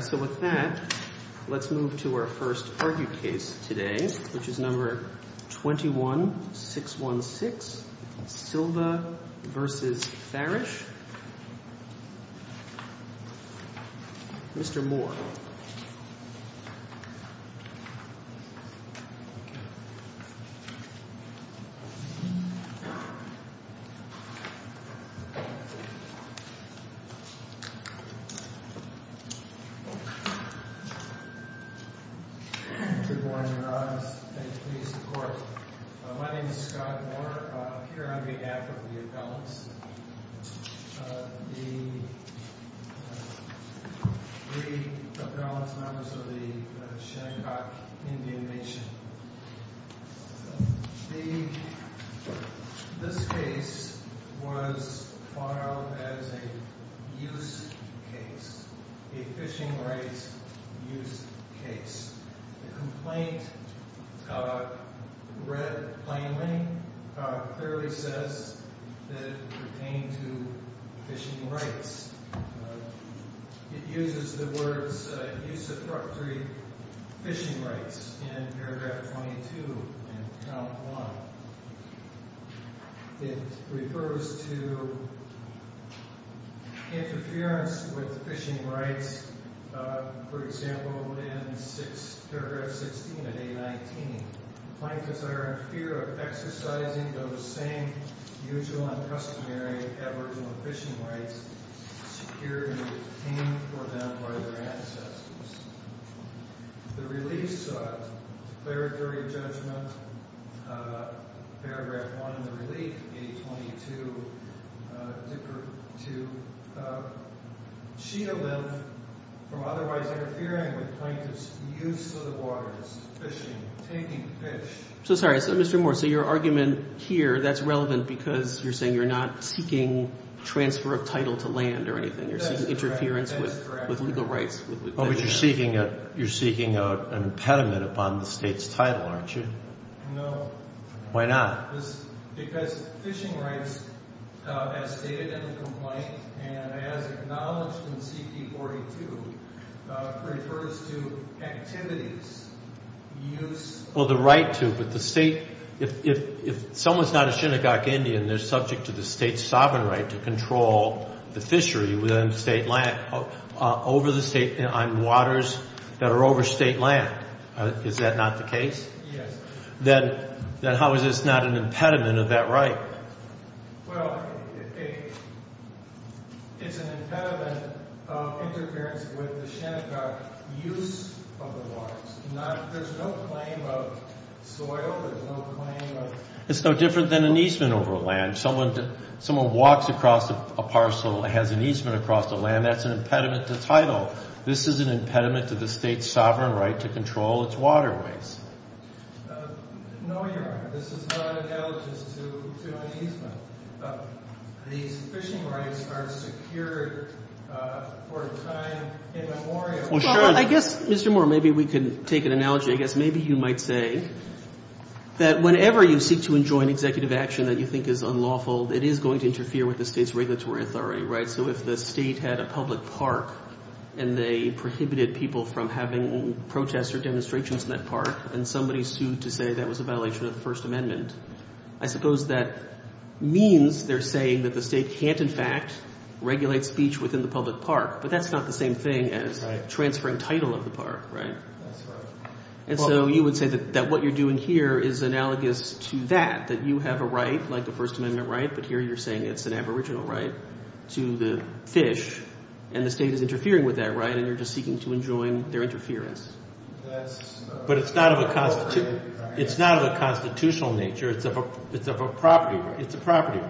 So with that, let's move to our first argued case today, which is number 21-616, Silva v. Farrish, Mr. Moore. Good morning, Your Honor. Thank you for your support. My name is Scott Moore, here on behalf of the appellants, the three appellant members of the Shadcock Indian Nation. This case was filed as a use case, a fishing rights use case. The complaint read plainly, clearly says that it pertained to fishing rights. It uses the words, use of property fishing rights in paragraph 22 and count 1. It refers to interference with fishing rights, for example, in paragraph 16 of A-19. Plaintiffs are in fear of exercising those same usual and customary, aboriginal fishing rights secured and obtained for them by their ancestors. The reliefs, declaratory judgment, paragraph 1 in the relief, A-22, differ to shield them from otherwise interfering with plaintiffs' use of the waters, fishing, taking fish. So sorry, Mr. Moore, so your argument here, that's relevant because you're saying you're not seeking transfer of title to land or anything. You're seeking interference with legal rights. Oh, but you're seeking an impediment upon the State's title, aren't you? No. Why not? Because fishing rights, as stated in the complaint and as acknowledged in C.P. 42, refers to activities, use. Well, the right to, but the State, if someone's not a Shinnecock Indian, they're subject to the State's sovereign right to control the fishery within State land, over the State, on waters that are over State land. Is that not the case? Yes. Then how is this not an impediment of that right? Well, it's an impediment of interference with the Shinnecock use of the waters. There's no claim of soil. There's no claim of... It's no different than an easement over land. Someone walks across a parcel, has an easement across the land, that's an impediment to title. This is an impediment to the State's sovereign right to control its waterways. No, you're right. This is not analogous to an easement. These fishing rights are secured for a time immemorial. Well, sure. I guess, Mr. Moore, maybe we can take an analogy. I guess maybe you might say that whenever you seek to enjoin executive action that you think is unlawful, it is going to interfere with the State's regulatory authority, right? So if the State had a public park and they prohibited people from having protests or demonstrations in that park, and somebody sued to say that was a violation of the First Amendment, I suppose that means they're saying that the State can't, in fact, regulate speech within the public park. But that's not the same thing as transferring title of the park, right? That's right. And so you would say that what you're doing here is analogous to that, that you have a right, like the First Amendment right, but here you're saying it's an aboriginal right to the fish, and the State is interfering with that right and you're just seeking to enjoin their interference. But it's not of a constitutional nature. It's of a property right. It's a property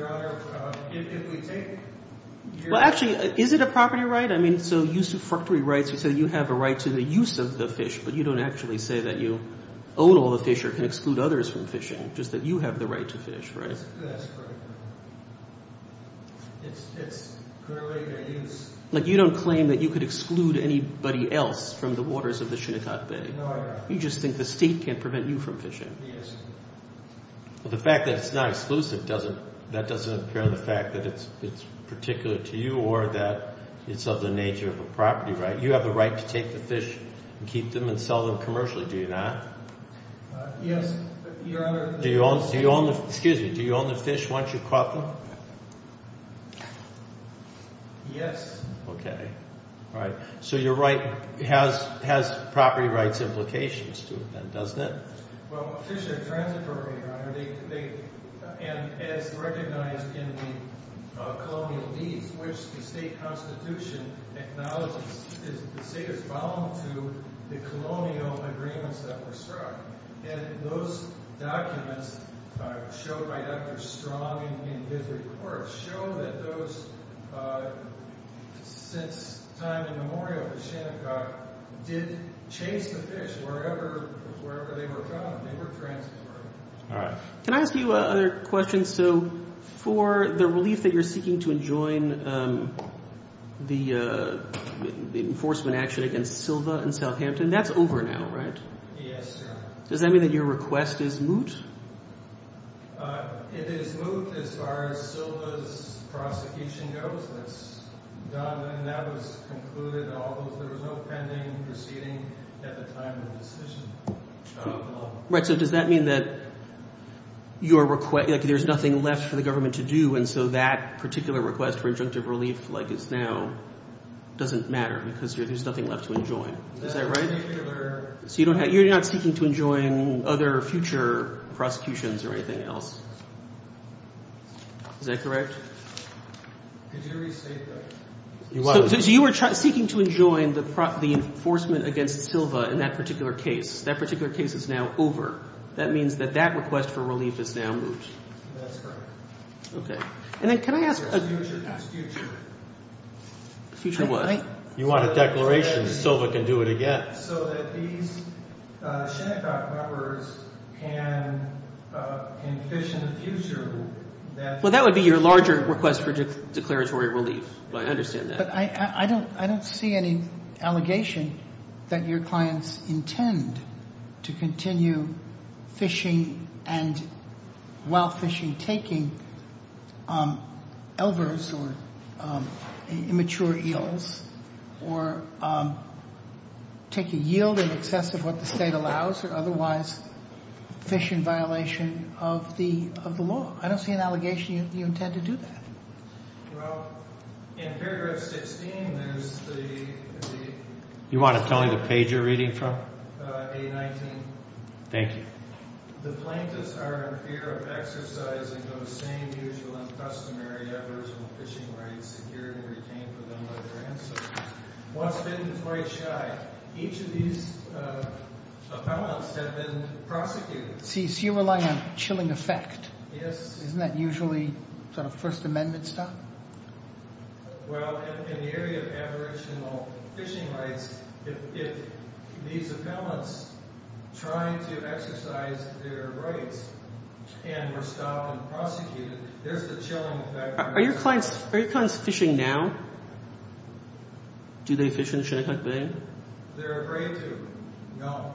right. Well, actually, is it a property right? I mean, so you say you have a right to the use of the fish, but you don't actually say that you own all the fish or can exclude others from fishing, just that you have the right to fish, right? That's correct. It's currently in use. Like you don't claim that you could exclude anybody else from the waters of the Shinnecott Bay. No, I don't. You just think the State can't prevent you from fishing. Yes. Well, the fact that it's not exclusive doesn't – that doesn't impair the fact that it's particular to you or that it's of the nature of a property right. You have the right to take the fish and keep them and sell them commercially, do you not? Yes. Do you own the fish once you've caught them? Yes. Okay. All right. So your right has property rights implications to it then, doesn't it? Well, fish are transitory, Your Honor, and as recognized in the colonial deeds which the state constitution acknowledges, the state is bound to the colonial agreements that were struck. And those documents showed by Dr. Strong in his report show that those – since time immemorial, the Shinnecott did chase the fish wherever they were caught. They were transitory. All right. Can I ask you other questions? So for the relief that you're seeking to enjoin, the enforcement action against Silva and Southampton, that's over now, right? Yes, Your Honor. Does that mean that your request is moot? It is moot as far as Silva's prosecution goes. It's done and that was concluded, although there was no pending proceeding at the time of the decision. Right. So does that mean that your – like there's nothing left for the government to do, and so that particular request for injunctive relief like it's now doesn't matter because there's nothing left to enjoin. Is that right? So you don't have – you're not seeking to enjoin other future prosecutions or anything else. Is that correct? Could you restate that? So you were seeking to enjoin the enforcement against Silva in that particular case. That particular case is now over. That means that that request for relief is now moot. That's correct. Okay. And then can I ask – There's a future prosecution. Future what? You want a declaration that Silva can do it again. Well, that would be your larger request for declaratory relief. I understand that. But I don't see any allegation that your clients intend to continue fishing and – while fishing, taking elvers or immature eels or taking yield in excess of what the state allows or otherwise fish in violation of the law. I don't see an allegation you intend to do that. Well, in paragraph 16, there's the – You want to tell me the page you're reading from? A-19. Thank you. The plaintiffs are in fear of exercising those same usual and customary efforts of fishing rights secured and retained for them by their ancestors. Once bitten is quite shy. Each of these opponents have been prosecuted. So you're relying on chilling effect. Yes. Isn't that usually sort of First Amendment stuff? Well, in the area of aboriginal fishing rights, if these opponents trying to exercise their rights and were stopped and prosecuted, there's the chilling effect. Are your clients fishing now? Do they fish in Shinnecock Bay? They're afraid to. No.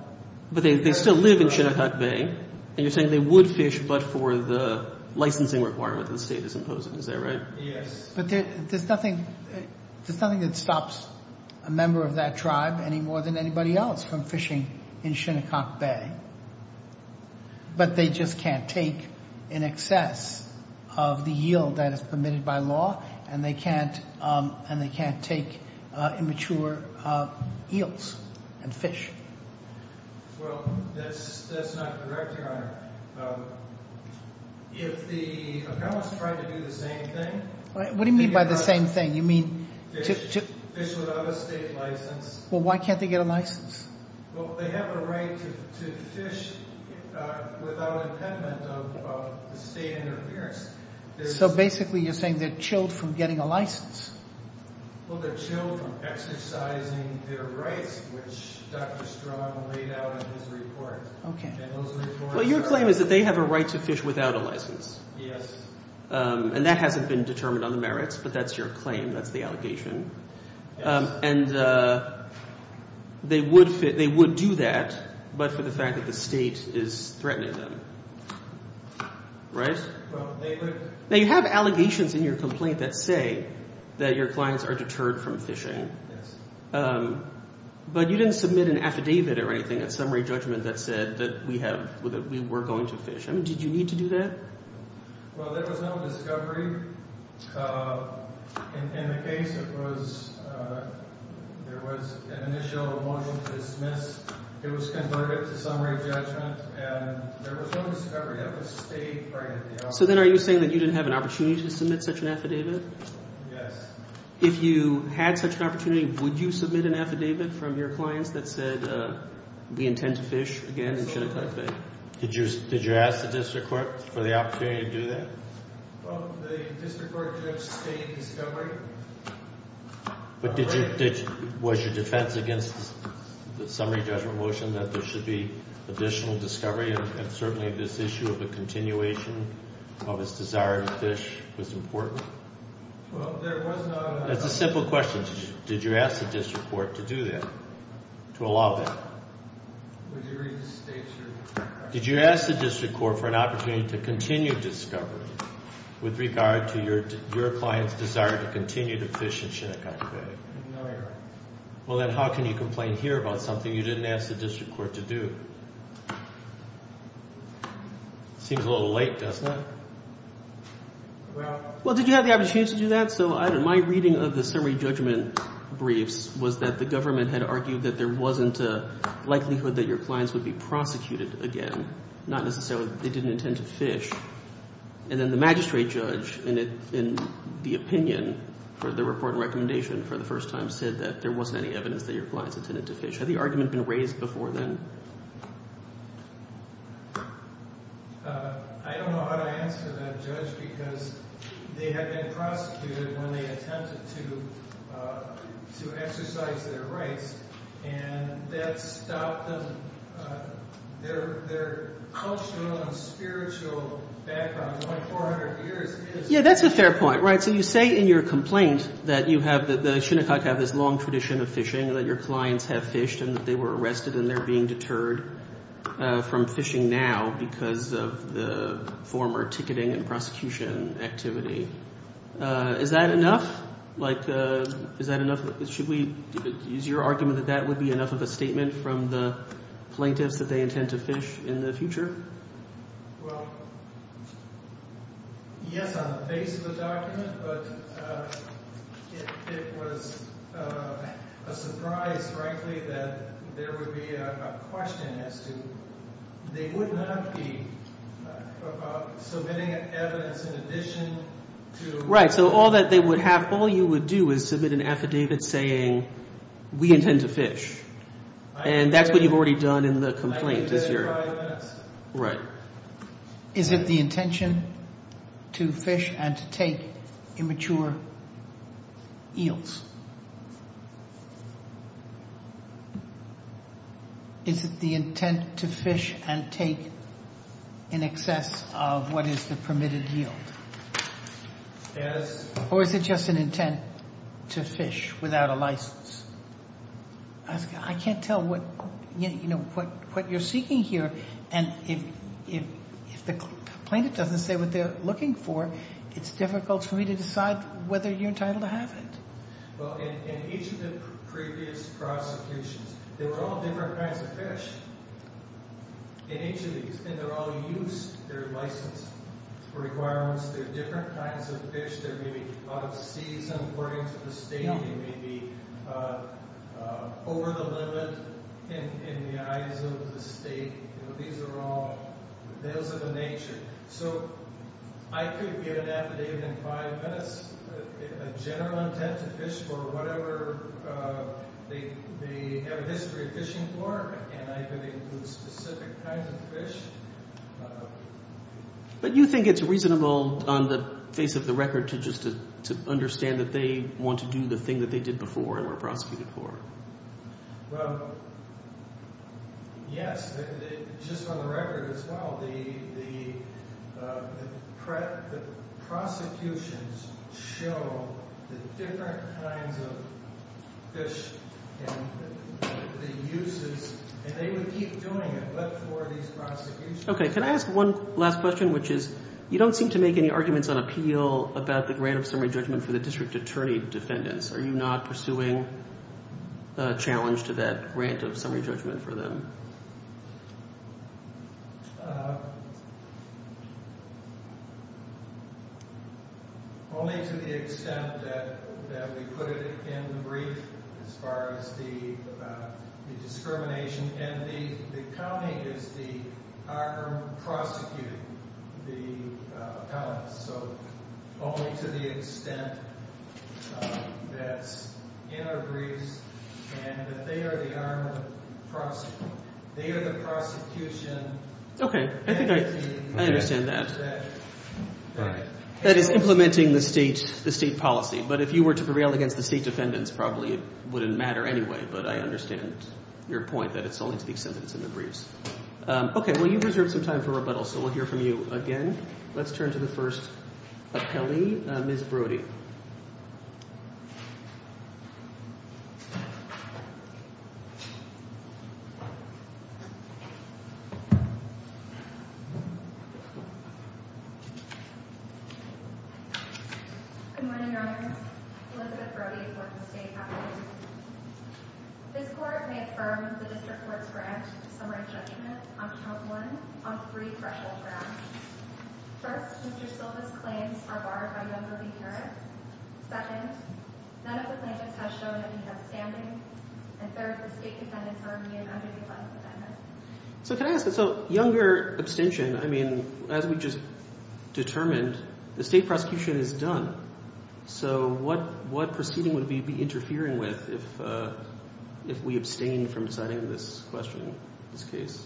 But they still live in Shinnecock Bay, and you're saying they would fish but for the licensing requirement the state is imposing. Is that right? Yes. But there's nothing that stops a member of that tribe any more than anybody else from fishing in Shinnecock Bay. But they just can't take in excess of the yield that is permitted by law, and they can't take immature eels and fish. Well, that's not correct, Your Honor. If the appellants try to do the same thing— What do you mean by the same thing? You mean— Fish without a state license. Well, why can't they get a license? Well, they have a right to fish without impediment of the state interference. So basically you're saying they're chilled from getting a license. Well, they're chilled from exercising their rights, which Dr. Strong laid out in his report. Okay. And those reports are— Well, your claim is that they have a right to fish without a license. Yes. And that hasn't been determined on the merits, but that's your claim. That's the allegation. Yes. And they would do that but for the fact that the state is threatening them. Right? Well, they would— Now, you have allegations in your complaint that say that your clients are deterred from fishing. Yes. But you didn't submit an affidavit or anything, a summary judgment, that said that we have—that we were going to fish. I mean, did you need to do that? Well, there was no discovery. In the case, it was—there was an initial motion to dismiss. It was converted to summary judgment, and there was no discovery. That was stayed right at the office. So then are you saying that you didn't have an opportunity to submit such an affidavit? Yes. If you had such an opportunity, would you submit an affidavit from your clients that said we intend to fish again in Shinnecock Bay? Did you ask the district court for the opportunity to do that? Well, the district court did have sustained discovery. But did you—was your defense against the summary judgment motion that there should be additional discovery and certainly this issue of a continuation of his desire to fish was important? Well, there was no— It's a simple question. Did you ask the district court to do that, to allow that? Would you read the state, sir? Did you ask the district court for an opportunity to continue discovery with regard to your client's desire to continue to fish in Shinnecock Bay? No, Your Honor. Well, then how can you complain here about something you didn't ask the district court to do? Seems a little late, doesn't it? Well, did you have the opportunity to do that? So my reading of the summary judgment briefs was that the government had argued that there wasn't a likelihood that your clients would be prosecuted again, and then the magistrate judge, in the opinion for the report and recommendation for the first time, said that there wasn't any evidence that your clients intended to fish. Had the argument been raised before then? I don't know how to answer that, Judge, because they had been prosecuted when they attempted to exercise their rights, and that stopped them, their cultural and spiritual background, like 400 years ago. Yeah, that's a fair point, right? So you say in your complaint that you have, that the Shinnecock have this long tradition of fishing, that your clients have fished and that they were arrested and they're being deterred from fishing now because of the former ticketing and prosecution activity. Is that enough? Like, is that enough? Should we use your argument that that would be enough of a statement from the plaintiffs that they intend to fish in the future? Well, yes, on the base of the document, but it was a surprise, frankly, that there would be a question as to, they would not be submitting evidence in addition to... Right, so all that they would have, all you would do is submit an affidavit saying, we intend to fish, and that's what you've already done in the complaint is your... Yes. Right. Is it the intention to fish and to take immature eels? Is it the intent to fish and take in excess of what is the permitted yield? Yes. I can't tell what you're seeking here, and if the plaintiff doesn't say what they're looking for, it's difficult for me to decide whether you're entitled to have it. Well, in each of the previous prosecutions, there were all different kinds of fish in each of these, and they're all used, they're licensed for requirements. They're different kinds of fish. They're maybe out of season according to the state. They may be over the limit in the eyes of the state. These are all males of a nature. So I could give an affidavit in five minutes, a general intent to fish for whatever they have a history of fishing for, and I could include specific kinds of fish. But you think it's reasonable on the face of the record to just understand that they want to do the thing that they did before and were prosecuted for? Well, yes, just on the record as well. The prosecutions show the different kinds of fish and the uses, and they would keep doing it but for these prosecutions. Okay. Can I ask one last question, which is you don't seem to make any arguments on appeal about the grant of summary judgment for the district attorney defendants. Are you not pursuing a challenge to that grant of summary judgment for them? Only to the extent that we put it in the brief as far as the discrimination. And the county is the arm of prosecuting the appellants, so only to the extent that's in our briefs and that they are the prosecution. Okay. I think I understand that. That is implementing the state policy. But if you were to prevail against the state defendants, probably it wouldn't matter anyway, but I understand your point that it's only to the extent that it's in the briefs. Okay. Well, you've reserved some time for rebuttal, so we'll hear from you again. Let's turn to the first appellee, Ms. Brody. Ms. Brody. Good morning, Your Honors. Elizabeth Brody with the state appellate. This court may affirm the district court's grant of summary judgment on count one on three threshold grounds. First, Mr. Silva's claims are barred by Younger v. Carrick. Second, none of the plaintiffs have shown that he has standing. And third, the state defendants are immune under the appellant amendment. So can I ask this? So Younger abstention, I mean, as we just determined, the state prosecution is done. So what proceeding would we be interfering with if we abstained from deciding this question, this case?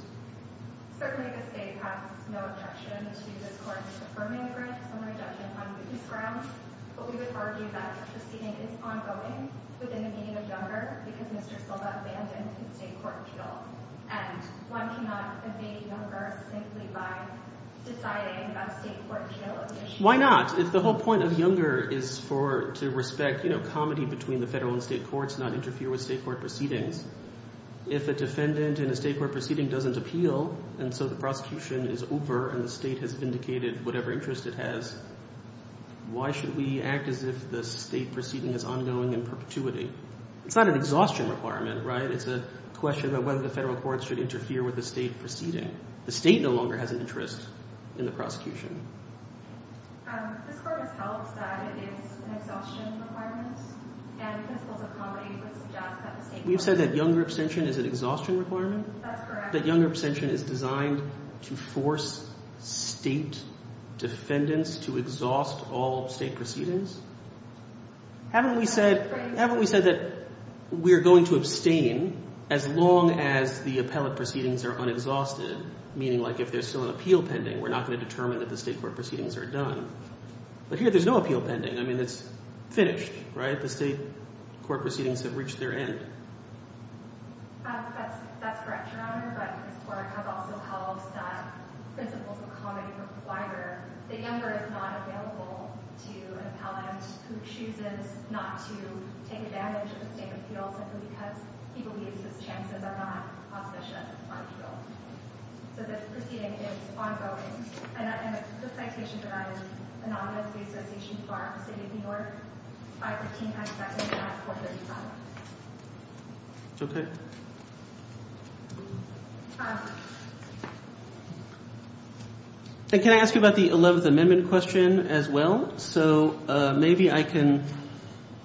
Certainly the state has no objection to this court's affirming grant of summary judgment on these grounds. But we would argue that the proceeding is ongoing within the meaning of Younger because Mr. Silva abandoned his state court appeal. And one cannot evade Younger simply by deciding a state court appeal issue. Why not? If the whole point of Younger is for – to respect comedy between the federal and state courts, not interfere with state court proceedings. If a defendant in a state court proceeding doesn't appeal, and so the prosecution is over and the state has vindicated whatever interest it has, why should we act as if the state proceeding is ongoing in perpetuity? It's not an exhaustion requirement, right? It's a question about whether the federal courts should interfere with the state proceeding. The state no longer has an interest in the prosecution. This court has held that it is an exhaustion requirement. We've said that Younger abstention is an exhaustion requirement? That Younger abstention is designed to force state defendants to exhaust all state proceedings? Haven't we said – haven't we said that we are going to abstain as long as the appellate proceedings are unexhausted, meaning like if there's still an appeal pending, we're not going to determine that the state court proceedings are done. But here there's no appeal pending. I mean it's finished, right? The state court proceedings have reached their end. That's correct, Your Honor, but this court has also held that principles of comedy require that Younger is not available to an appellant who chooses not to take advantage of the state appeal simply because he believes his chances are not auspicious on appeal. So this proceeding is ongoing. And the citation provided is anonymously associated with the Bar of the City of New York. Can I ask you about the 11th Amendment question as well? Well, so maybe I can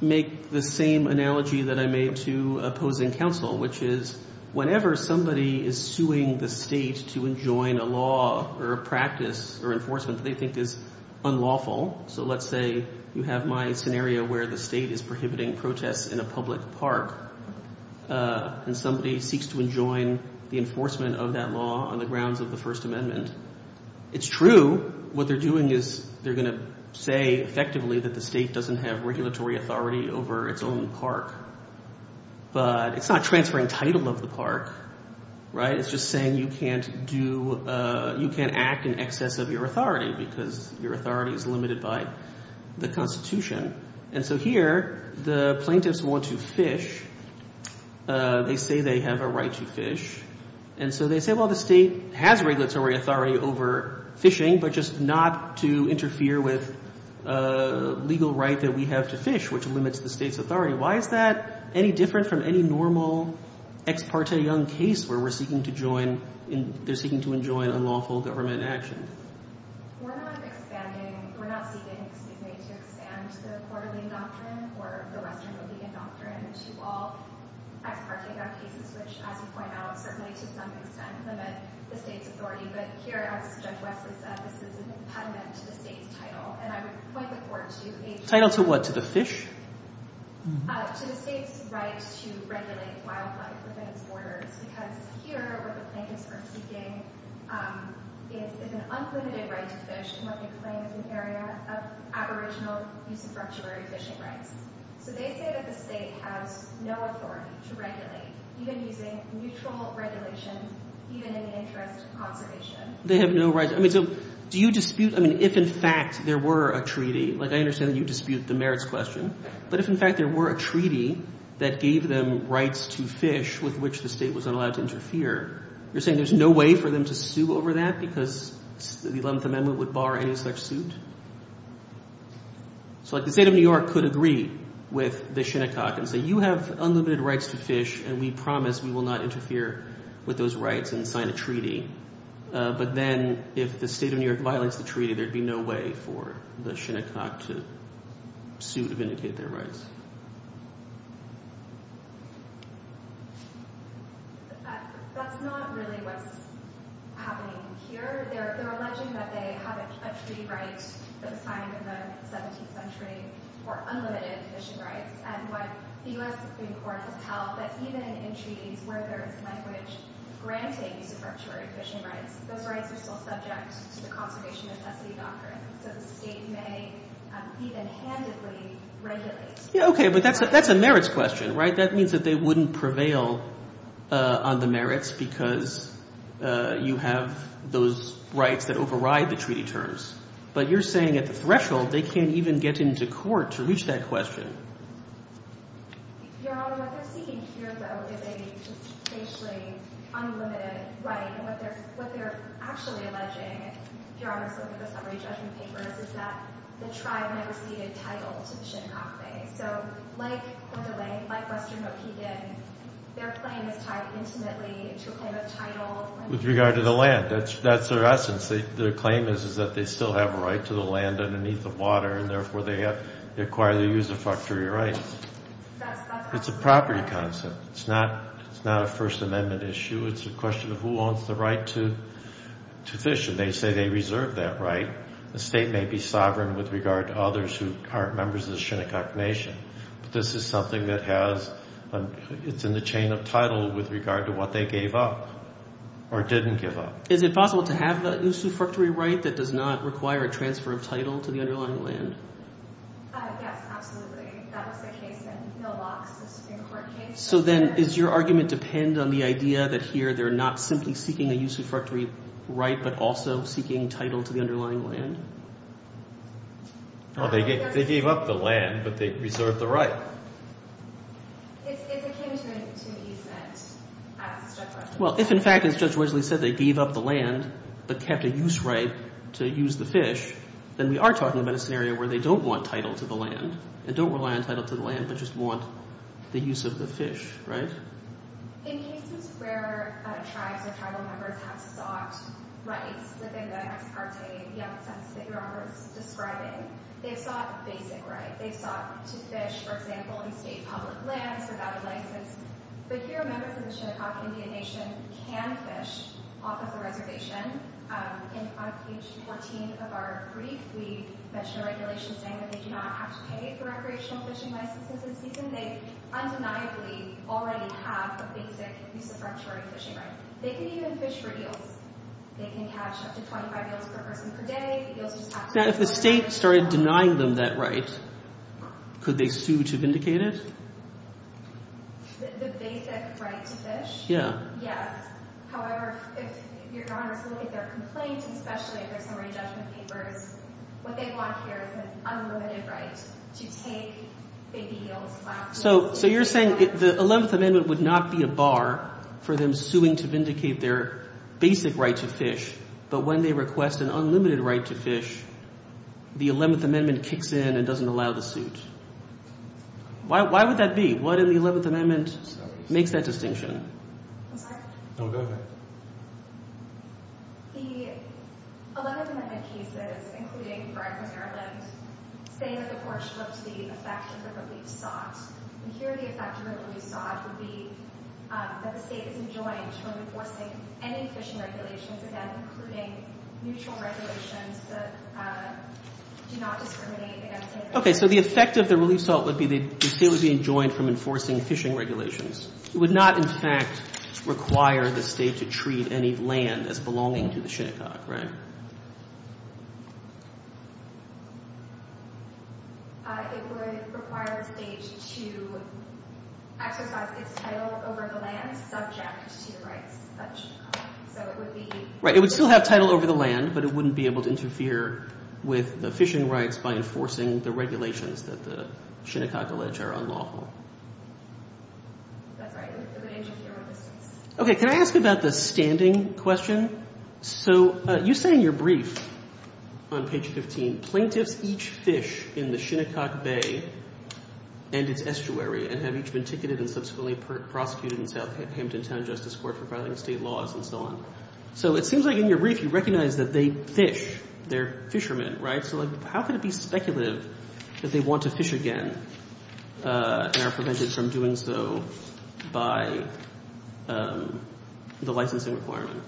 make the same analogy that I made to opposing counsel, which is whenever somebody is suing the state to enjoin a law or a practice or enforcement they think is unlawful, so let's say you have my scenario where the state is prohibiting protests in a public park and somebody seeks to enjoin the enforcement of that law on the grounds of the First Amendment. It's true what they're doing is they're going to say effectively that the state doesn't have regulatory authority over its own park. But it's not transferring title of the park, right? It's just saying you can't do – you can't act in excess of your authority because your authority is limited by the Constitution. And so here the plaintiffs want to fish. They say they have a right to fish. And so they say, well, the state has regulatory authority over fishing, but just not to interfere with a legal right that we have to fish, which limits the state's authority. Why is that any different from any normal ex parte young case where we're seeking to join – they're seeking to enjoin unlawful government action? We're not expanding – we're not seeking, excuse me, to expand the court of legal doctrine or the Western legal doctrine to all ex parte young cases, which, as you point out, certainly to some extent limit the state's authority. But here, as Judge Wesley said, this is an impediment to the state's title. And I would point the court to a – Title to what? To the fish? To the state's right to regulate wildlife within its borders because here what the plaintiffs are seeking is an unlimited right to fish in what they claim is an area of aboriginal use of ruptured fishing rights. So they say that the state has no authority to regulate, even using neutral regulation, even in the interest of conservation. They have no right – I mean, so do you dispute – I mean, if in fact there were a treaty – like, I understand that you dispute the merits question, but if in fact there were a treaty that gave them rights to fish with which the state was not allowed to interfere, you're saying there's no way for them to sue over that because the 11th Amendment would bar any such suit? So like the state of New York could agree with the Shinnecock and say, you have unlimited rights to fish and we promise we will not interfere with those rights and sign a treaty. But then if the state of New York violates the treaty, there would be no way for the Shinnecock to sue to vindicate their rights. That's not really what's happening here. They're alleging that they have a treaty right that was signed in the 17th century for unlimited fishing rights. And what the U.S. Supreme Court has held that even in treaties where there is language granting use of ruptured fishing rights, those rights are still subject to the conservation necessity doctrine. So the state may even handedly regulate. Okay, but that's a merits question, right? That means that they wouldn't prevail on the merits because you have those rights that override the treaty terms. But you're saying at the threshold they can't even get into court to reach that question. Your Honor, what they're seeking here, though, is a spatially unlimited right. And what they're actually alleging, if Your Honor is looking at the summary judgment papers, is that the tribe never ceded title to the Shinnecock Bay. So like Western Okegan, their claim is tied intimately to a claim of title. With regard to the land, that's their essence. Their claim is that they still have a right to the land underneath the water, and therefore they acquire the use of factory rights. It's a property concept. It's not a First Amendment issue. It's a question of who owns the right to fish, and they say they reserve that right. The state may be sovereign with regard to others who aren't members of the Shinnecock Nation. But this is something that has – it's in the chain of title with regard to what they gave up or didn't give up. Is it possible to have the use of factory right that does not require a transfer of title to the underlying land? Yes, absolutely. That was the case in Hill Locks, the Supreme Court case. So then does your argument depend on the idea that here they're not simply seeking a use of factory right but also seeking title to the underlying land? Well, they gave up the land, but they reserved the right. It's akin to an easement, as Judge Wesley said. Well, if in fact, as Judge Wesley said, they gave up the land but kept a use right to use the fish, then we are talking about a scenario where they don't want title to the land and don't rely on title to the land but just want the use of the fish, right? In cases where tribes or tribal members have sought rights within the ex parte, the absence that you're describing, they've sought basic rights. They've sought to fish, for example, in state public lands without a license. But here members of the Shinnecock Indian Nation can fish off of the reservation. On page 14 of our brief, we mention a regulation saying that they do not have to pay for recreational fishing licenses in season. They undeniably already have a basic use of factory fishing right. They can even fish for eels. They can catch up to 25 eels per person per day. Now, if the state started denying them that right, could they sue to vindicate it? The basic right to fish? Yes. Yes. However, if your Honor is looking at their complaint, especially if there's summary judgment papers, what they want here is an unlimited right to take baby eels. So you're saying the 11th Amendment would not be a bar for them suing to vindicate their basic right to fish, but when they request an unlimited right to fish, the 11th Amendment kicks in and doesn't allow the suit. Why would that be? What in the 11th Amendment makes that distinction? I'm sorry? No, go ahead. The 11th Amendment cases, including Brian from Maryland, say that the courts looked to the effect of the relief sought. And here the effect of the relief sought would be that the state is enjoined from enforcing any fishing regulations, again, including mutual regulations that do not discriminate against any fish. Okay. So the effect of the relief sought would be the state would be enjoined from enforcing fishing regulations. It would not, in fact, require the state to treat any land as belonging to the Shinnecock, right? It would require the state to exercise its title over the land subject to the rights of Shinnecock. So it would be... Right. It would still have title over the land, but it wouldn't be able to interfere with the fishing rights by enforcing the regulations that the Shinnecock alleged are unlawful. That's right. Okay. Can I ask about the standing question? So you say in your brief on page 15, plaintiffs each fish in the Shinnecock Bay and its estuary and have each been ticketed and subsequently prosecuted in Southampton Town Justice Court for violating state laws and so on. So it seems like in your brief you recognize that they fish. They're fishermen, right? So how could it be speculative that they want to fish again and are prevented from doing so by the licensing requirement?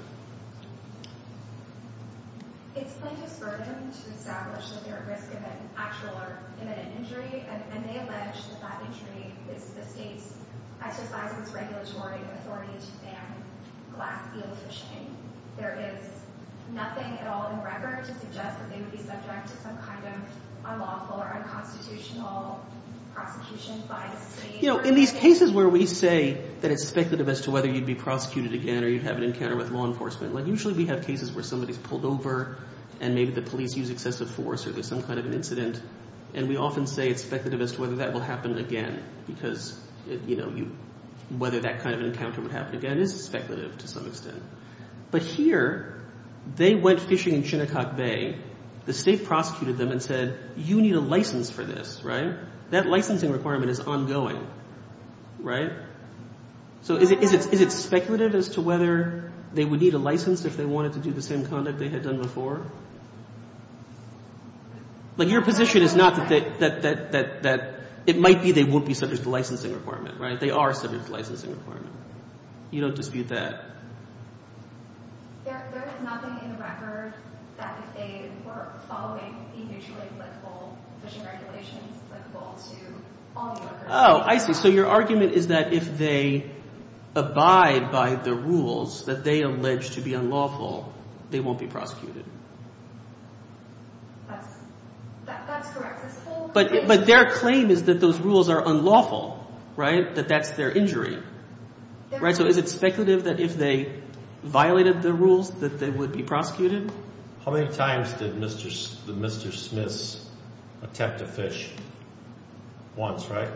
It's plaintiff's burden to establish that they're at risk of an actual or imminent injury, and they allege that that injury is the state's exercise of its regulatory authority to ban glass eel fishing. There is nothing at all in the record to suggest that they would be subject to some kind of unlawful or unconstitutional prosecution by the state. You know, in these cases where we say that it's speculative as to whether you'd be prosecuted again or you'd have an encounter with law enforcement, like usually we have cases where somebody's pulled over and maybe the police use excessive force or there's some kind of an incident, and we often say it's speculative as to whether that will happen again because, you know, whether that kind of an encounter would happen again is speculative to some extent. But here they went fishing in Chinnokok Bay. The state prosecuted them and said, you need a license for this, right? That licensing requirement is ongoing, right? So is it speculative as to whether they would need a license if they wanted to do the same conduct they had done before? Like your position is not that it might be they won't be subject to the licensing requirement, right? They are subject to the licensing requirement. You don't dispute that. There is nothing in the record that if they were following the mutually applicable fishing regulations applicable to all the records. Oh, I see. So your argument is that if they abide by the rules that they allege to be unlawful, they won't be prosecuted. That's correct. But their claim is that those rules are unlawful, right, that that's their injury, right? So is it speculative that if they violated the rules that they would be prosecuted? How many times did Mr. Smith attempt to fish? Once, right?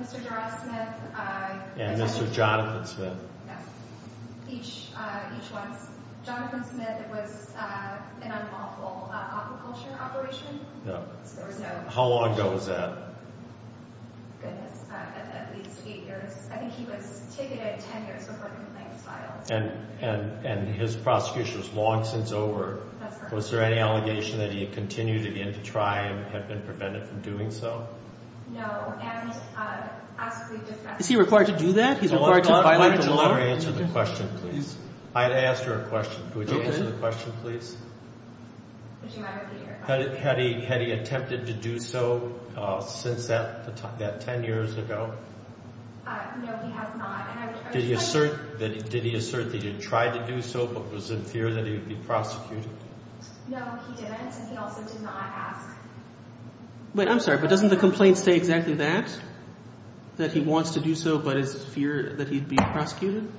Mr. Gerald Smith. And Mr. Jonathan Smith. Each once. Jonathan Smith, it was an unlawful aquaculture operation. How long ago was that? Goodness, at least eight years. I think he was ticketed ten years before the complaint was filed. And his prosecution was long since over. Was there any allegation that he had continued again to try and had been prevented from doing so? No. Is he required to do that? He's required to violate the law? Answer the question, please. I asked her a question. Would you answer the question, please? Would you mind repeating your question? Had he attempted to do so since that ten years ago? No, he has not. Did he assert that he tried to do so but was in fear that he would be prosecuted? No, he didn't, and he also did not ask. Wait, I'm sorry, but doesn't the complaint say exactly that, that he wants to do so but is in fear that he'd be prosecuted?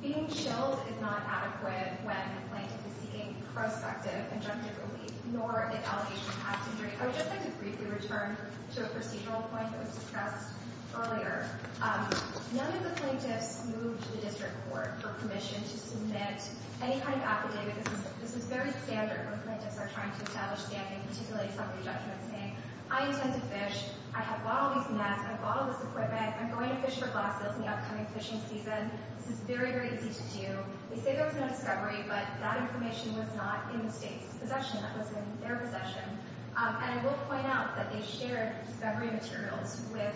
Being chilled is not adequate when a plaintiff is seeking prospective injunctive relief nor an allegation of past injury. I would just like to briefly return to a procedural point that was discussed earlier. None of the plaintiffs moved to the district court for permission to submit any kind of affidavit. This was very standard when plaintiffs are trying to establish standing, particularly somebody judging them and saying, I intend to fish. I have bottled these nets. I have bottled this equipment. I'm going to fish for glasses in the upcoming fishing season. This is very, very easy to do. They say there was no discovery, but that information was not in the state's possession. That was in their possession. And I will point out that they shared discovery materials with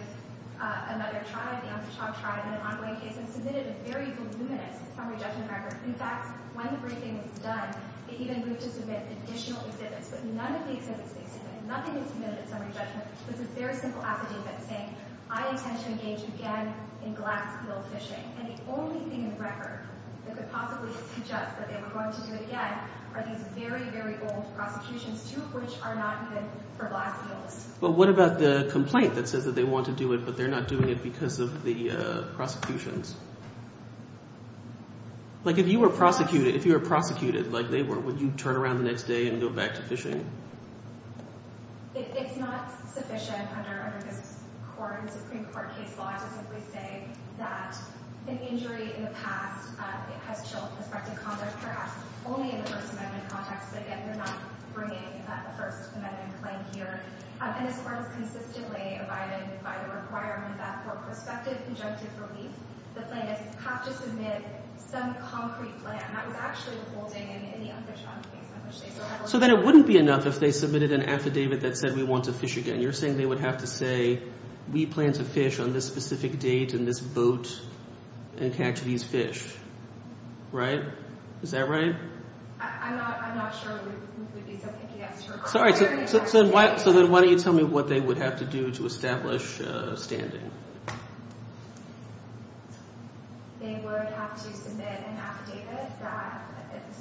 another tribe, the Amsterdam tribe, in an ongoing case and submitted a very voluminous summary judgment record. In fact, when the briefing was done, they even moved to submit additional exhibits, but none of the exhibits they submitted, nothing they submitted in summary judgment, was a very simple affidavit saying, I intend to engage again in glass eel fishing. And the only thing in the record that could possibly suggest that they were going to do it again are these very, very old prosecutions, two of which are not even for glass eels. But what about the complaint that says that they want to do it, but they're not doing it because of the prosecutions? Like if you were prosecuted, if you were prosecuted like they were, would you turn around the next day and go back to fishing? It's not sufficient under this Supreme Court case law to simply say that an injury in the past has chilled prospective conduct, perhaps only in the First Amendment context, but again, they're not bringing a First Amendment claim here. And this Court has consistently abided by the requirement that for prospective conjunctive relief, the plaintiffs have to submit some concrete plan. So then it wouldn't be enough if they submitted an affidavit that said we want to fish again. You're saying they would have to say we plan to fish on this specific date in this boat and catch these fish, right? Is that right? Sorry, so then why don't you tell me what they would have to do to establish standing? This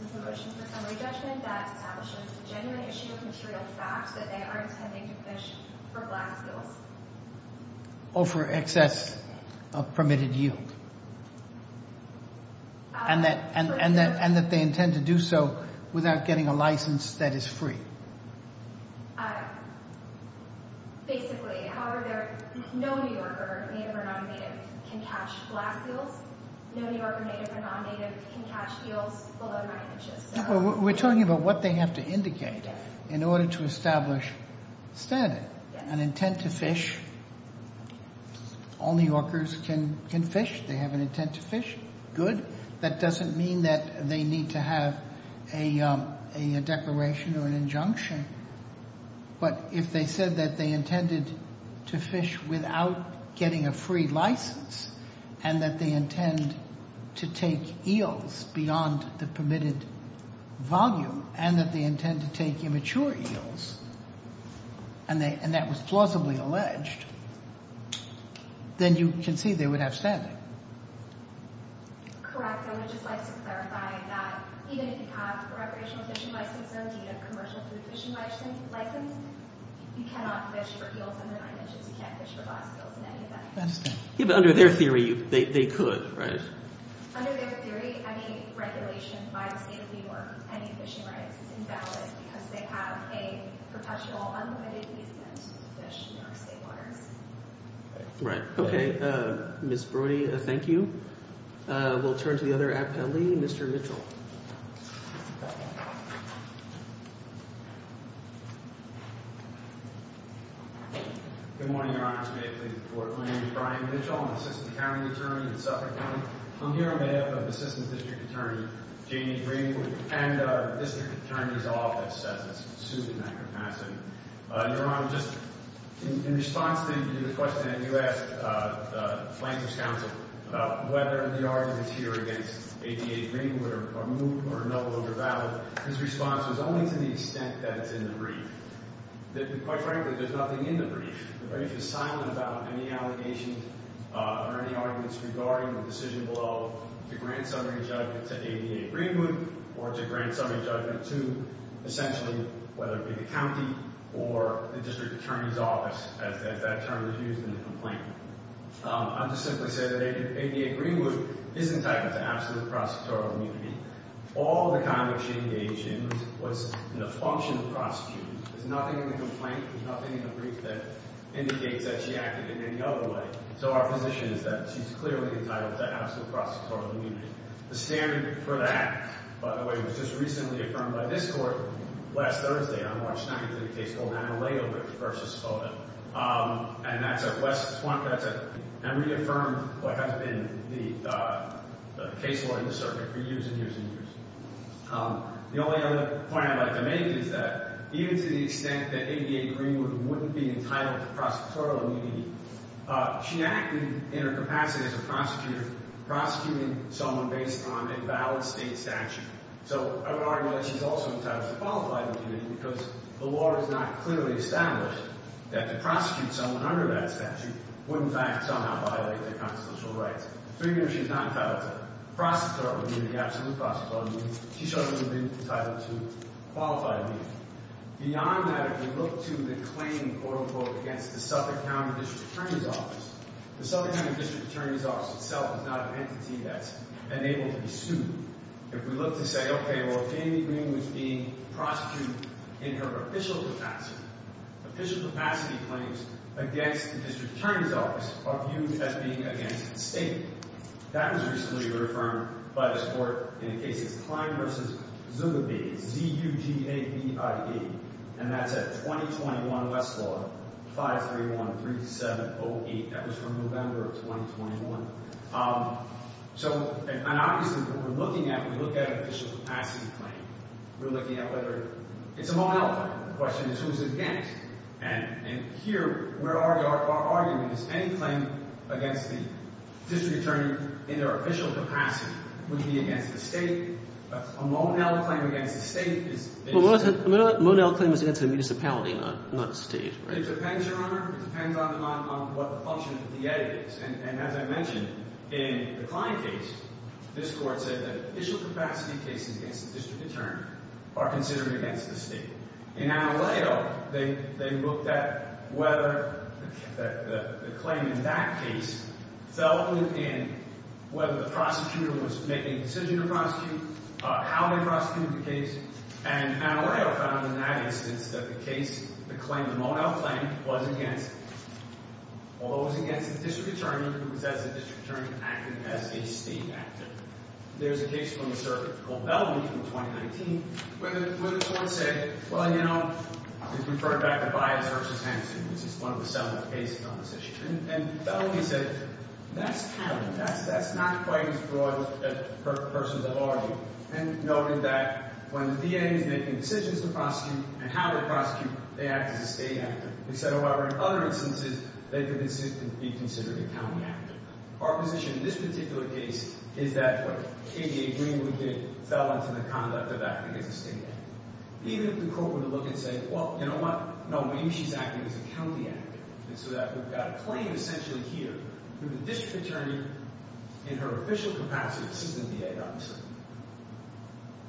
is a motion for summary judgment that establishes the genuine issue of material facts that they are intending to fish for black seals. Or for excess of permitted yield. And that they intend to do so without getting a license that is free. Basically, however, no New Yorker, native or non-native, can catch black seals. No New Yorker, native or non-native, can catch seals below 9 inches. We're talking about what they have to indicate in order to establish standing. An intent to fish. All New Yorkers can fish. They have an intent to fish. Good. That doesn't mean that they need to have a declaration or an injunction. But if they said that they intended to fish without getting a free license, and that they intend to take eels beyond the permitted volume, and that they intend to take immature eels, and that was plausibly alleged, then you can see they would have standing. Correct. I would just like to clarify that even if you have a recreational fishing license or a commercial food fishing license, you cannot fish for eels under 9 inches. You can't fish for black seals in any event. I understand. Yeah, but under their theory, they could, right? Under their theory, any regulation by the state of New York of any fishing rights is invalid because they have a professional, unlimited easement to fish in New York state waters. Right. Okay. Ms. Brody, thank you. We'll turn to the other appellee. Mr. Mitchell. Good morning, Your Honor. May it please the Court. My name is Brian Mitchell. I'm an assistant county attorney at Suffolk County. Your Honor, just in response to the question that you asked the Flanker's counsel about whether the arguments here against ADA Greenwood are moot or no longer valid, his response was only to the extent that it's in the brief. Quite frankly, there's nothing in the brief. The brief is silent about any allegations or any arguments regarding the decision below to grant summary judgment to ADA Greenwood or to grant summary judgment to, essentially, whether it be the county or the district attorney's office, as that term is used in the complaint. I'll just simply say that ADA Greenwood is entitled to absolute prosecutorial immunity. All the conduct she engaged in was in the function of prosecuting. There's nothing in the complaint. There's nothing in the brief that indicates that she acted in any other way. So our position is that she's clearly entitled to absolute prosecutorial immunity. The standing for that, by the way, was just recently affirmed by this Court last Thursday on March 9th in a case called Amalego Ridge v. Soda. And that's a West Swamp. That's a – and reaffirmed what has been the case law in the circuit for years and years and years. The only other point I'd like to make is that even to the extent that ADA Greenwood wouldn't be entitled to prosecutorial immunity, she acted in her capacity as a prosecutor prosecuting someone based on a valid state statute. So I would argue that she's also entitled to qualified immunity because the law is not clearly established that to prosecute someone under that statute would, in fact, somehow violate their constitutional rights. So you know she's not entitled to prosecutorial immunity, absolute prosecutorial immunity. She shouldn't have been entitled to qualified immunity. Beyond that, if you look to the claim, quote, unquote, against the Suffolk County District Attorney's Office, the Suffolk County District Attorney's Office itself is not an entity that's enabled to be sued. If we look to say, okay, well, Jamie Greenwood's being prosecuted in her official capacity, official capacity claims against the District Attorney's Office are viewed as being against the state. That was recently reaffirmed by this court in the case of Klein v. Zubabi, Z-U-B-A-B-I-E, and that's a 2021 Westlaw 531-3708. That was from November of 2021. So – and obviously, what we're looking at when we look at an official capacity claim, we're looking at whether – it's a Monell claim. The question is who's against. And here, where our argument is any claim against the District Attorney in their official capacity would be against the state. A Monell claim against the state is – A Monell claim is against a municipality, not a state, right? It depends, Your Honor. It depends on what the function of the DA is. And as I mentioned, in the Klein case, this court said that official capacity cases against the District Attorney are considered against the state. In Anelayo, they looked at whether the claim in that case fell within whether the prosecutor was making a decision to prosecute, how they prosecuted the case. And Anelayo found in that instance that the case – the claim – the Monell claim was against – although it was against the District Attorney, it was that the District Attorney acted as a state actor. There's a case from the circuit called Bellamy from 2019 where the court said, well, you know, we've referred back to Bias v. Hanson, which is one of the seven cases on this issue. And Bellamy said, that's not quite as broad a person to argue. And noted that when the DA is making decisions to prosecute and how to prosecute, they act as a state actor. He said, however, in other instances, they could be considered a county actor. Our position in this particular case is that what KBA Greenwood did fell into the conduct of acting as a state actor. Even if the court were to look and say, well, you know what? No, maybe she's acting as a county actor. And so we've got a claim essentially here from the District Attorney in her official capacity as assistant DA, obviously.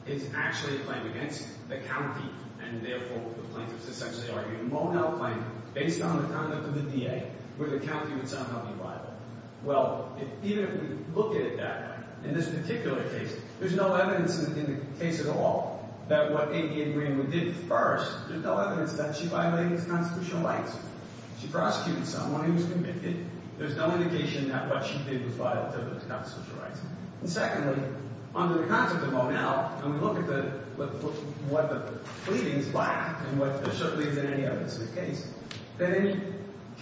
It's actually a claim against the county, and therefore the plaintiffs essentially argue a Monell claim based on the conduct of the DA, where the county would somehow be liable. Well, even if we look at it that way, in this particular case, there's no evidence in the case at all that what KBA Greenwood did first, there's no evidence that she violated its constitutional rights. She prosecuted someone who was convicted. There's no indication that what she did was violative of its constitutional rights. And secondly, under the concept of Monell, and we look at the – what the pleadings lack and what – there certainly isn't any evidence of the case that any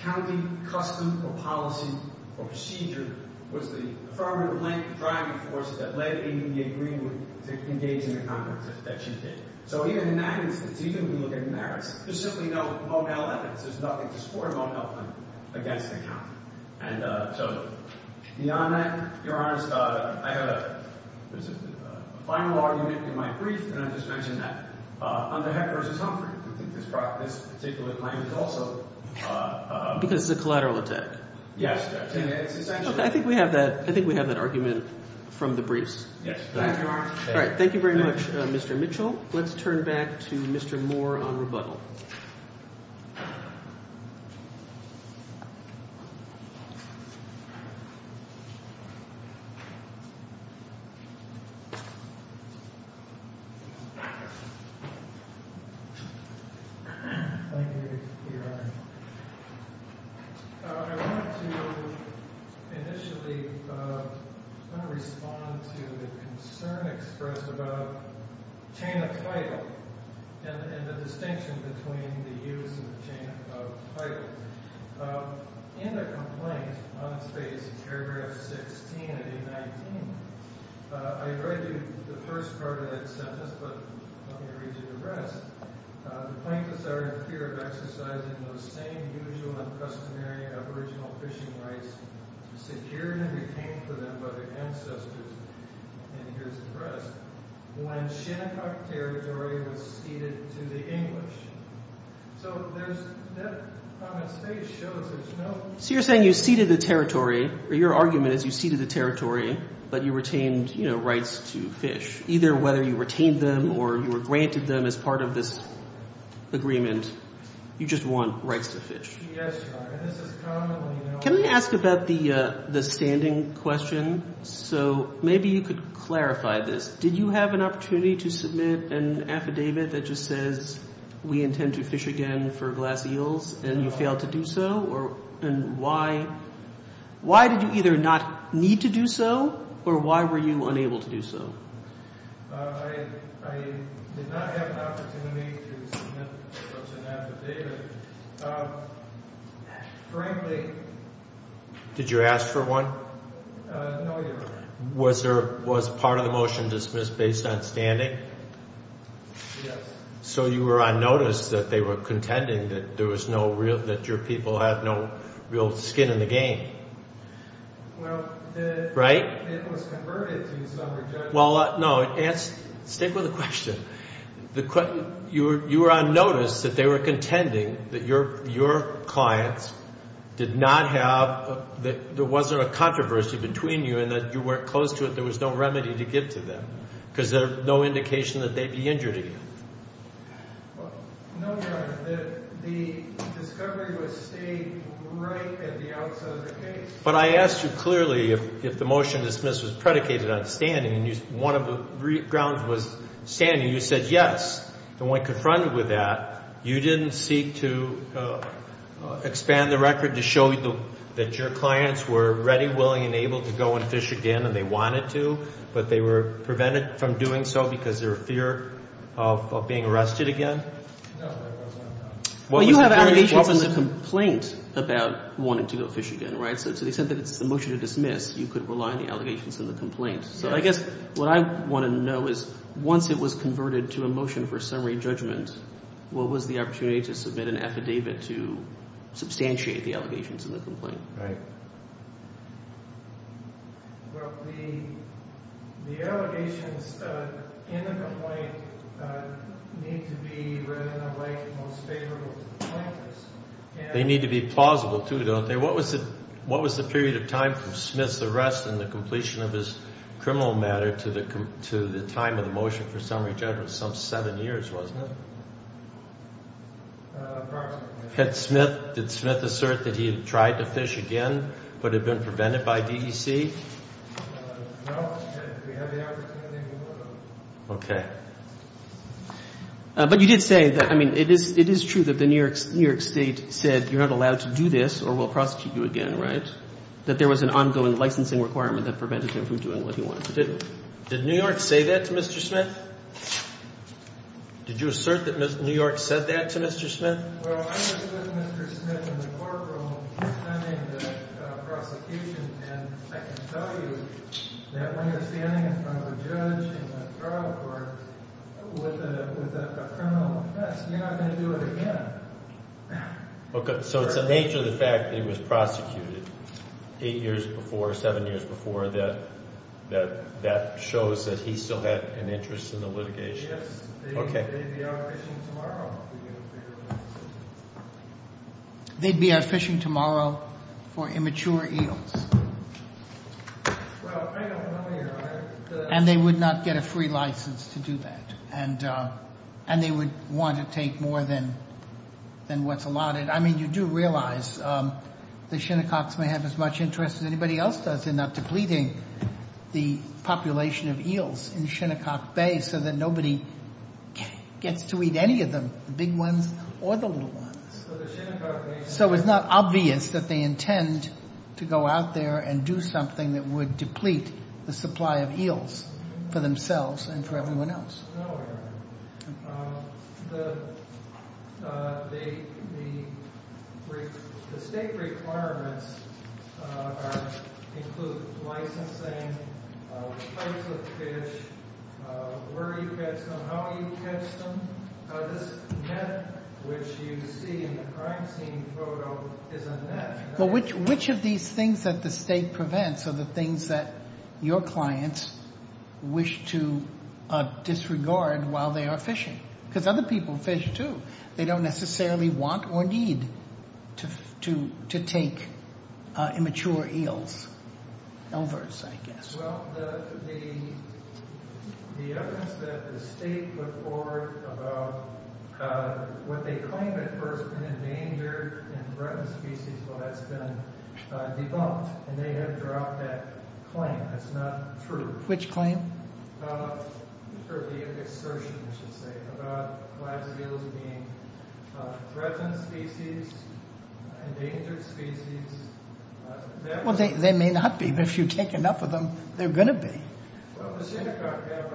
county custom or policy or procedure was the affirmative-length driving force that led KBA Greenwood to engage in the conduct that she did. So even in that instance, even when we look at merits, there's simply no Monell evidence. There's nothing to support a Monell claim against the county. And so beyond that, Your Honor, I have a final argument in my brief, and I just mentioned that under Hecker v. Humphrey, we think this particular claim is also – Because it's a collateral attack. Yes. I think we have that – I think we have that argument from the briefs. Yes. All right. Thank you very much, Mr. Mitchell. Let's turn back to Mr. Moore on rebuttal. Thank you, Your Honor. I want to initially – I want to respond to the concern expressed about chain of title and the distinction between the use of chain of title. In the complaint on page – paragraph 16 of A-19, I read you the first part of that sentence, but let me read you the rest. The plaintiffs are in fear of exercising those same usual and customary aboriginal fishing rights secured and retained for them by their ancestors. And here's the rest. When Shinnecock territory was ceded to the English. So there's – that comment stage shows there's no – So you're saying you ceded the territory – or your argument is you ceded the territory, but you retained rights to fish, either whether you retained them or you were granted them as part of this agreement. You just want rights to fish. Yes, Your Honor. And this is commonly – Can I ask about the standing question? So maybe you could clarify this. Did you have an opportunity to submit an affidavit that just says we intend to fish again for glass eels and you failed to do so? And why – why did you either not need to do so or why were you unable to do so? I did not have an opportunity to submit such an affidavit. Frankly – Did you ask for one? No, Your Honor. Was there – was part of the motion dismissed based on standing? Yes. So you were on notice that they were contending that there was no real – that your people had no real skin in the game. Well, the – Right? It was converted to some rejection. Well, no. Stay with the question. You were on notice that they were contending that your clients did not have – that there wasn't a controversy between you and that you weren't close to it, there was no remedy to give to them because there's no indication that they'd be injured again. No, Your Honor. The discovery was stayed right at the outset of the case. But I asked you clearly if the motion dismissed was predicated on standing, and one of the grounds was standing. You said yes, and when confronted with that, you didn't seek to expand the record to show that your clients were ready, willing, and able to go and fish again, and they wanted to, but they were prevented from doing so because of their fear of being arrested again? No, Your Honor. Well, you have allegations in the complaint about wanting to go fish again, right? So they said that it's a motion to dismiss. You could rely on the allegations in the complaint. So I guess what I want to know is once it was converted to a motion for summary judgment, what was the opportunity to submit an affidavit to substantiate the allegations in the complaint? Right. Well, the allegations in the complaint need to be read in a way that's most favorable to the plaintiffs. They need to be plausible, too, don't they? What was the period of time from Smith's arrest and the completion of his criminal matter to the time of the motion for summary judgment? Some seven years, wasn't it? Approximately. Did Smith assert that he had tried to fish again but had been prevented by DEC? No. Okay. But you did say that, I mean, it is true that the New York State said you're not allowed to do this or we'll prosecute you again, right? That there was an ongoing licensing requirement that prevented him from doing what he wanted to do. Did New York say that to Mr. Smith? Did you assert that New York said that to Mr. Smith? Well, I was with Mr. Smith in the courtroom attending the prosecution, and I can tell you that when you're standing in front of a judge in the trial court with a criminal offense, you're not going to do it again. Okay. So it's the nature of the fact that he was prosecuted eight years before, seven years before, that shows that he still had an interest in the litigation? Yes. Okay. They'd be out fishing tomorrow. They'd be out fishing tomorrow for immature eels. Well, I don't know, Your Honor. And they would not get a free license to do that. And they would want to take more than what's allotted. I mean, you do realize the Shinnecocks may have as much interest as anybody else does in not depleting the population of eels in Shinnecock Bay so that nobody gets to eat any of them, the big ones or the little ones. So it's not obvious that they intend to go out there and do something that would deplete the supply of eels for themselves and for everyone else. No, Your Honor. The state requirements include licensing, price of fish, where you catch them, how you catch them. This net, which you see in the crime scene photo, is a net. Well, which of these things that the state prevents are the things that your clients wish to disregard while they are fishing? Because other people fish, too. They don't necessarily want or need to take immature eels, elvers, I guess. Well, the evidence that the state put forward about what they claim at first, an endangered and threatened species, well, that's been debunked. And they have dropped that claim. That's not true. Which claim? For the assertion, I should say, about live eels being a threatened species, an endangered species. Well, they may not be. But if you take enough of them, they're going to be. Well, the Shinnecock Gap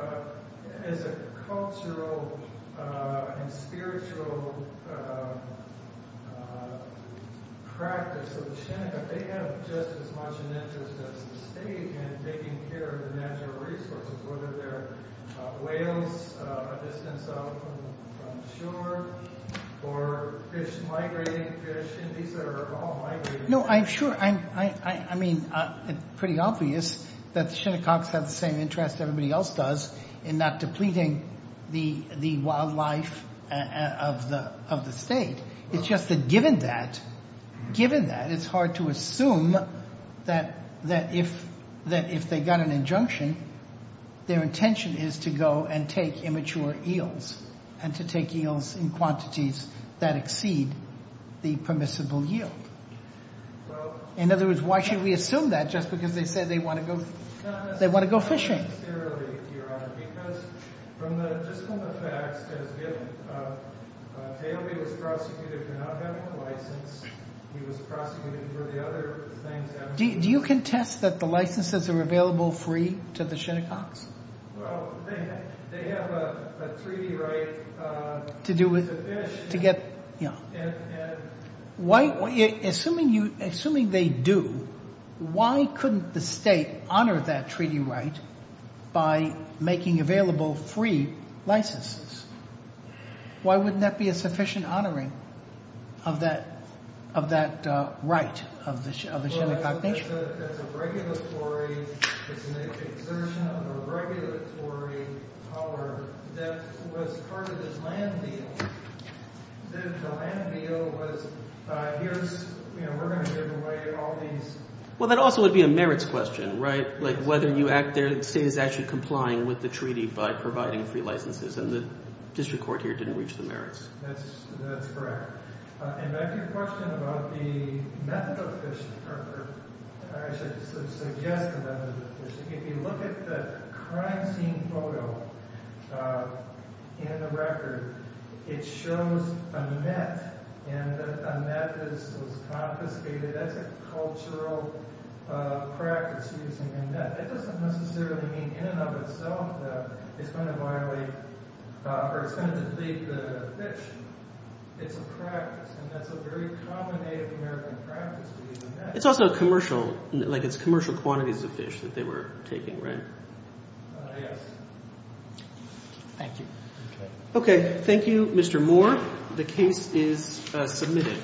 is a cultural and spiritual practice of the Shinnecock. They have just as much an interest as the state in taking care of the natural resources, whether they're whales a distance out from shore or fish, migrating fish. No, I'm sure. I mean, it's pretty obvious that the Shinnecocks have the same interest everybody else does in not depleting the wildlife of the state. It's just that given that, given that, it's hard to assume that if they got an injunction, their intention is to go and take immature eels and to take eels in quantities that exceed the permissible yield. In other words, why should we assume that just because they said they want to go fishing? Do you contest that the licenses are available free to the Shinnecocks? Well, they have a treaty right to fish. Assuming they do, why couldn't the state honor that treaty right by making available free licenses? Why wouldn't that be a sufficient honoring of that right of the Shinnecock Nation? Well, that also would be a merits question, right? Like whether you act there, the state is actually complying with the treaty by providing free licenses, and the district court here didn't reach the merits. That's correct. And back to your question about the method of fishing, or I should suggest the method of fishing. If you look at the crime scene photo in the record, it shows a net, and a net is confiscated. That's a cultural practice using a net. It doesn't necessarily mean in and of itself that it's going to violate or it's going to deflate the fish. It's a practice, and that's a very common Native American practice to use a net. It's also commercial, like it's commercial quantities of fish that they were taking, right? Yes. Thank you. Okay, thank you, Mr. Moore. The case is submitted.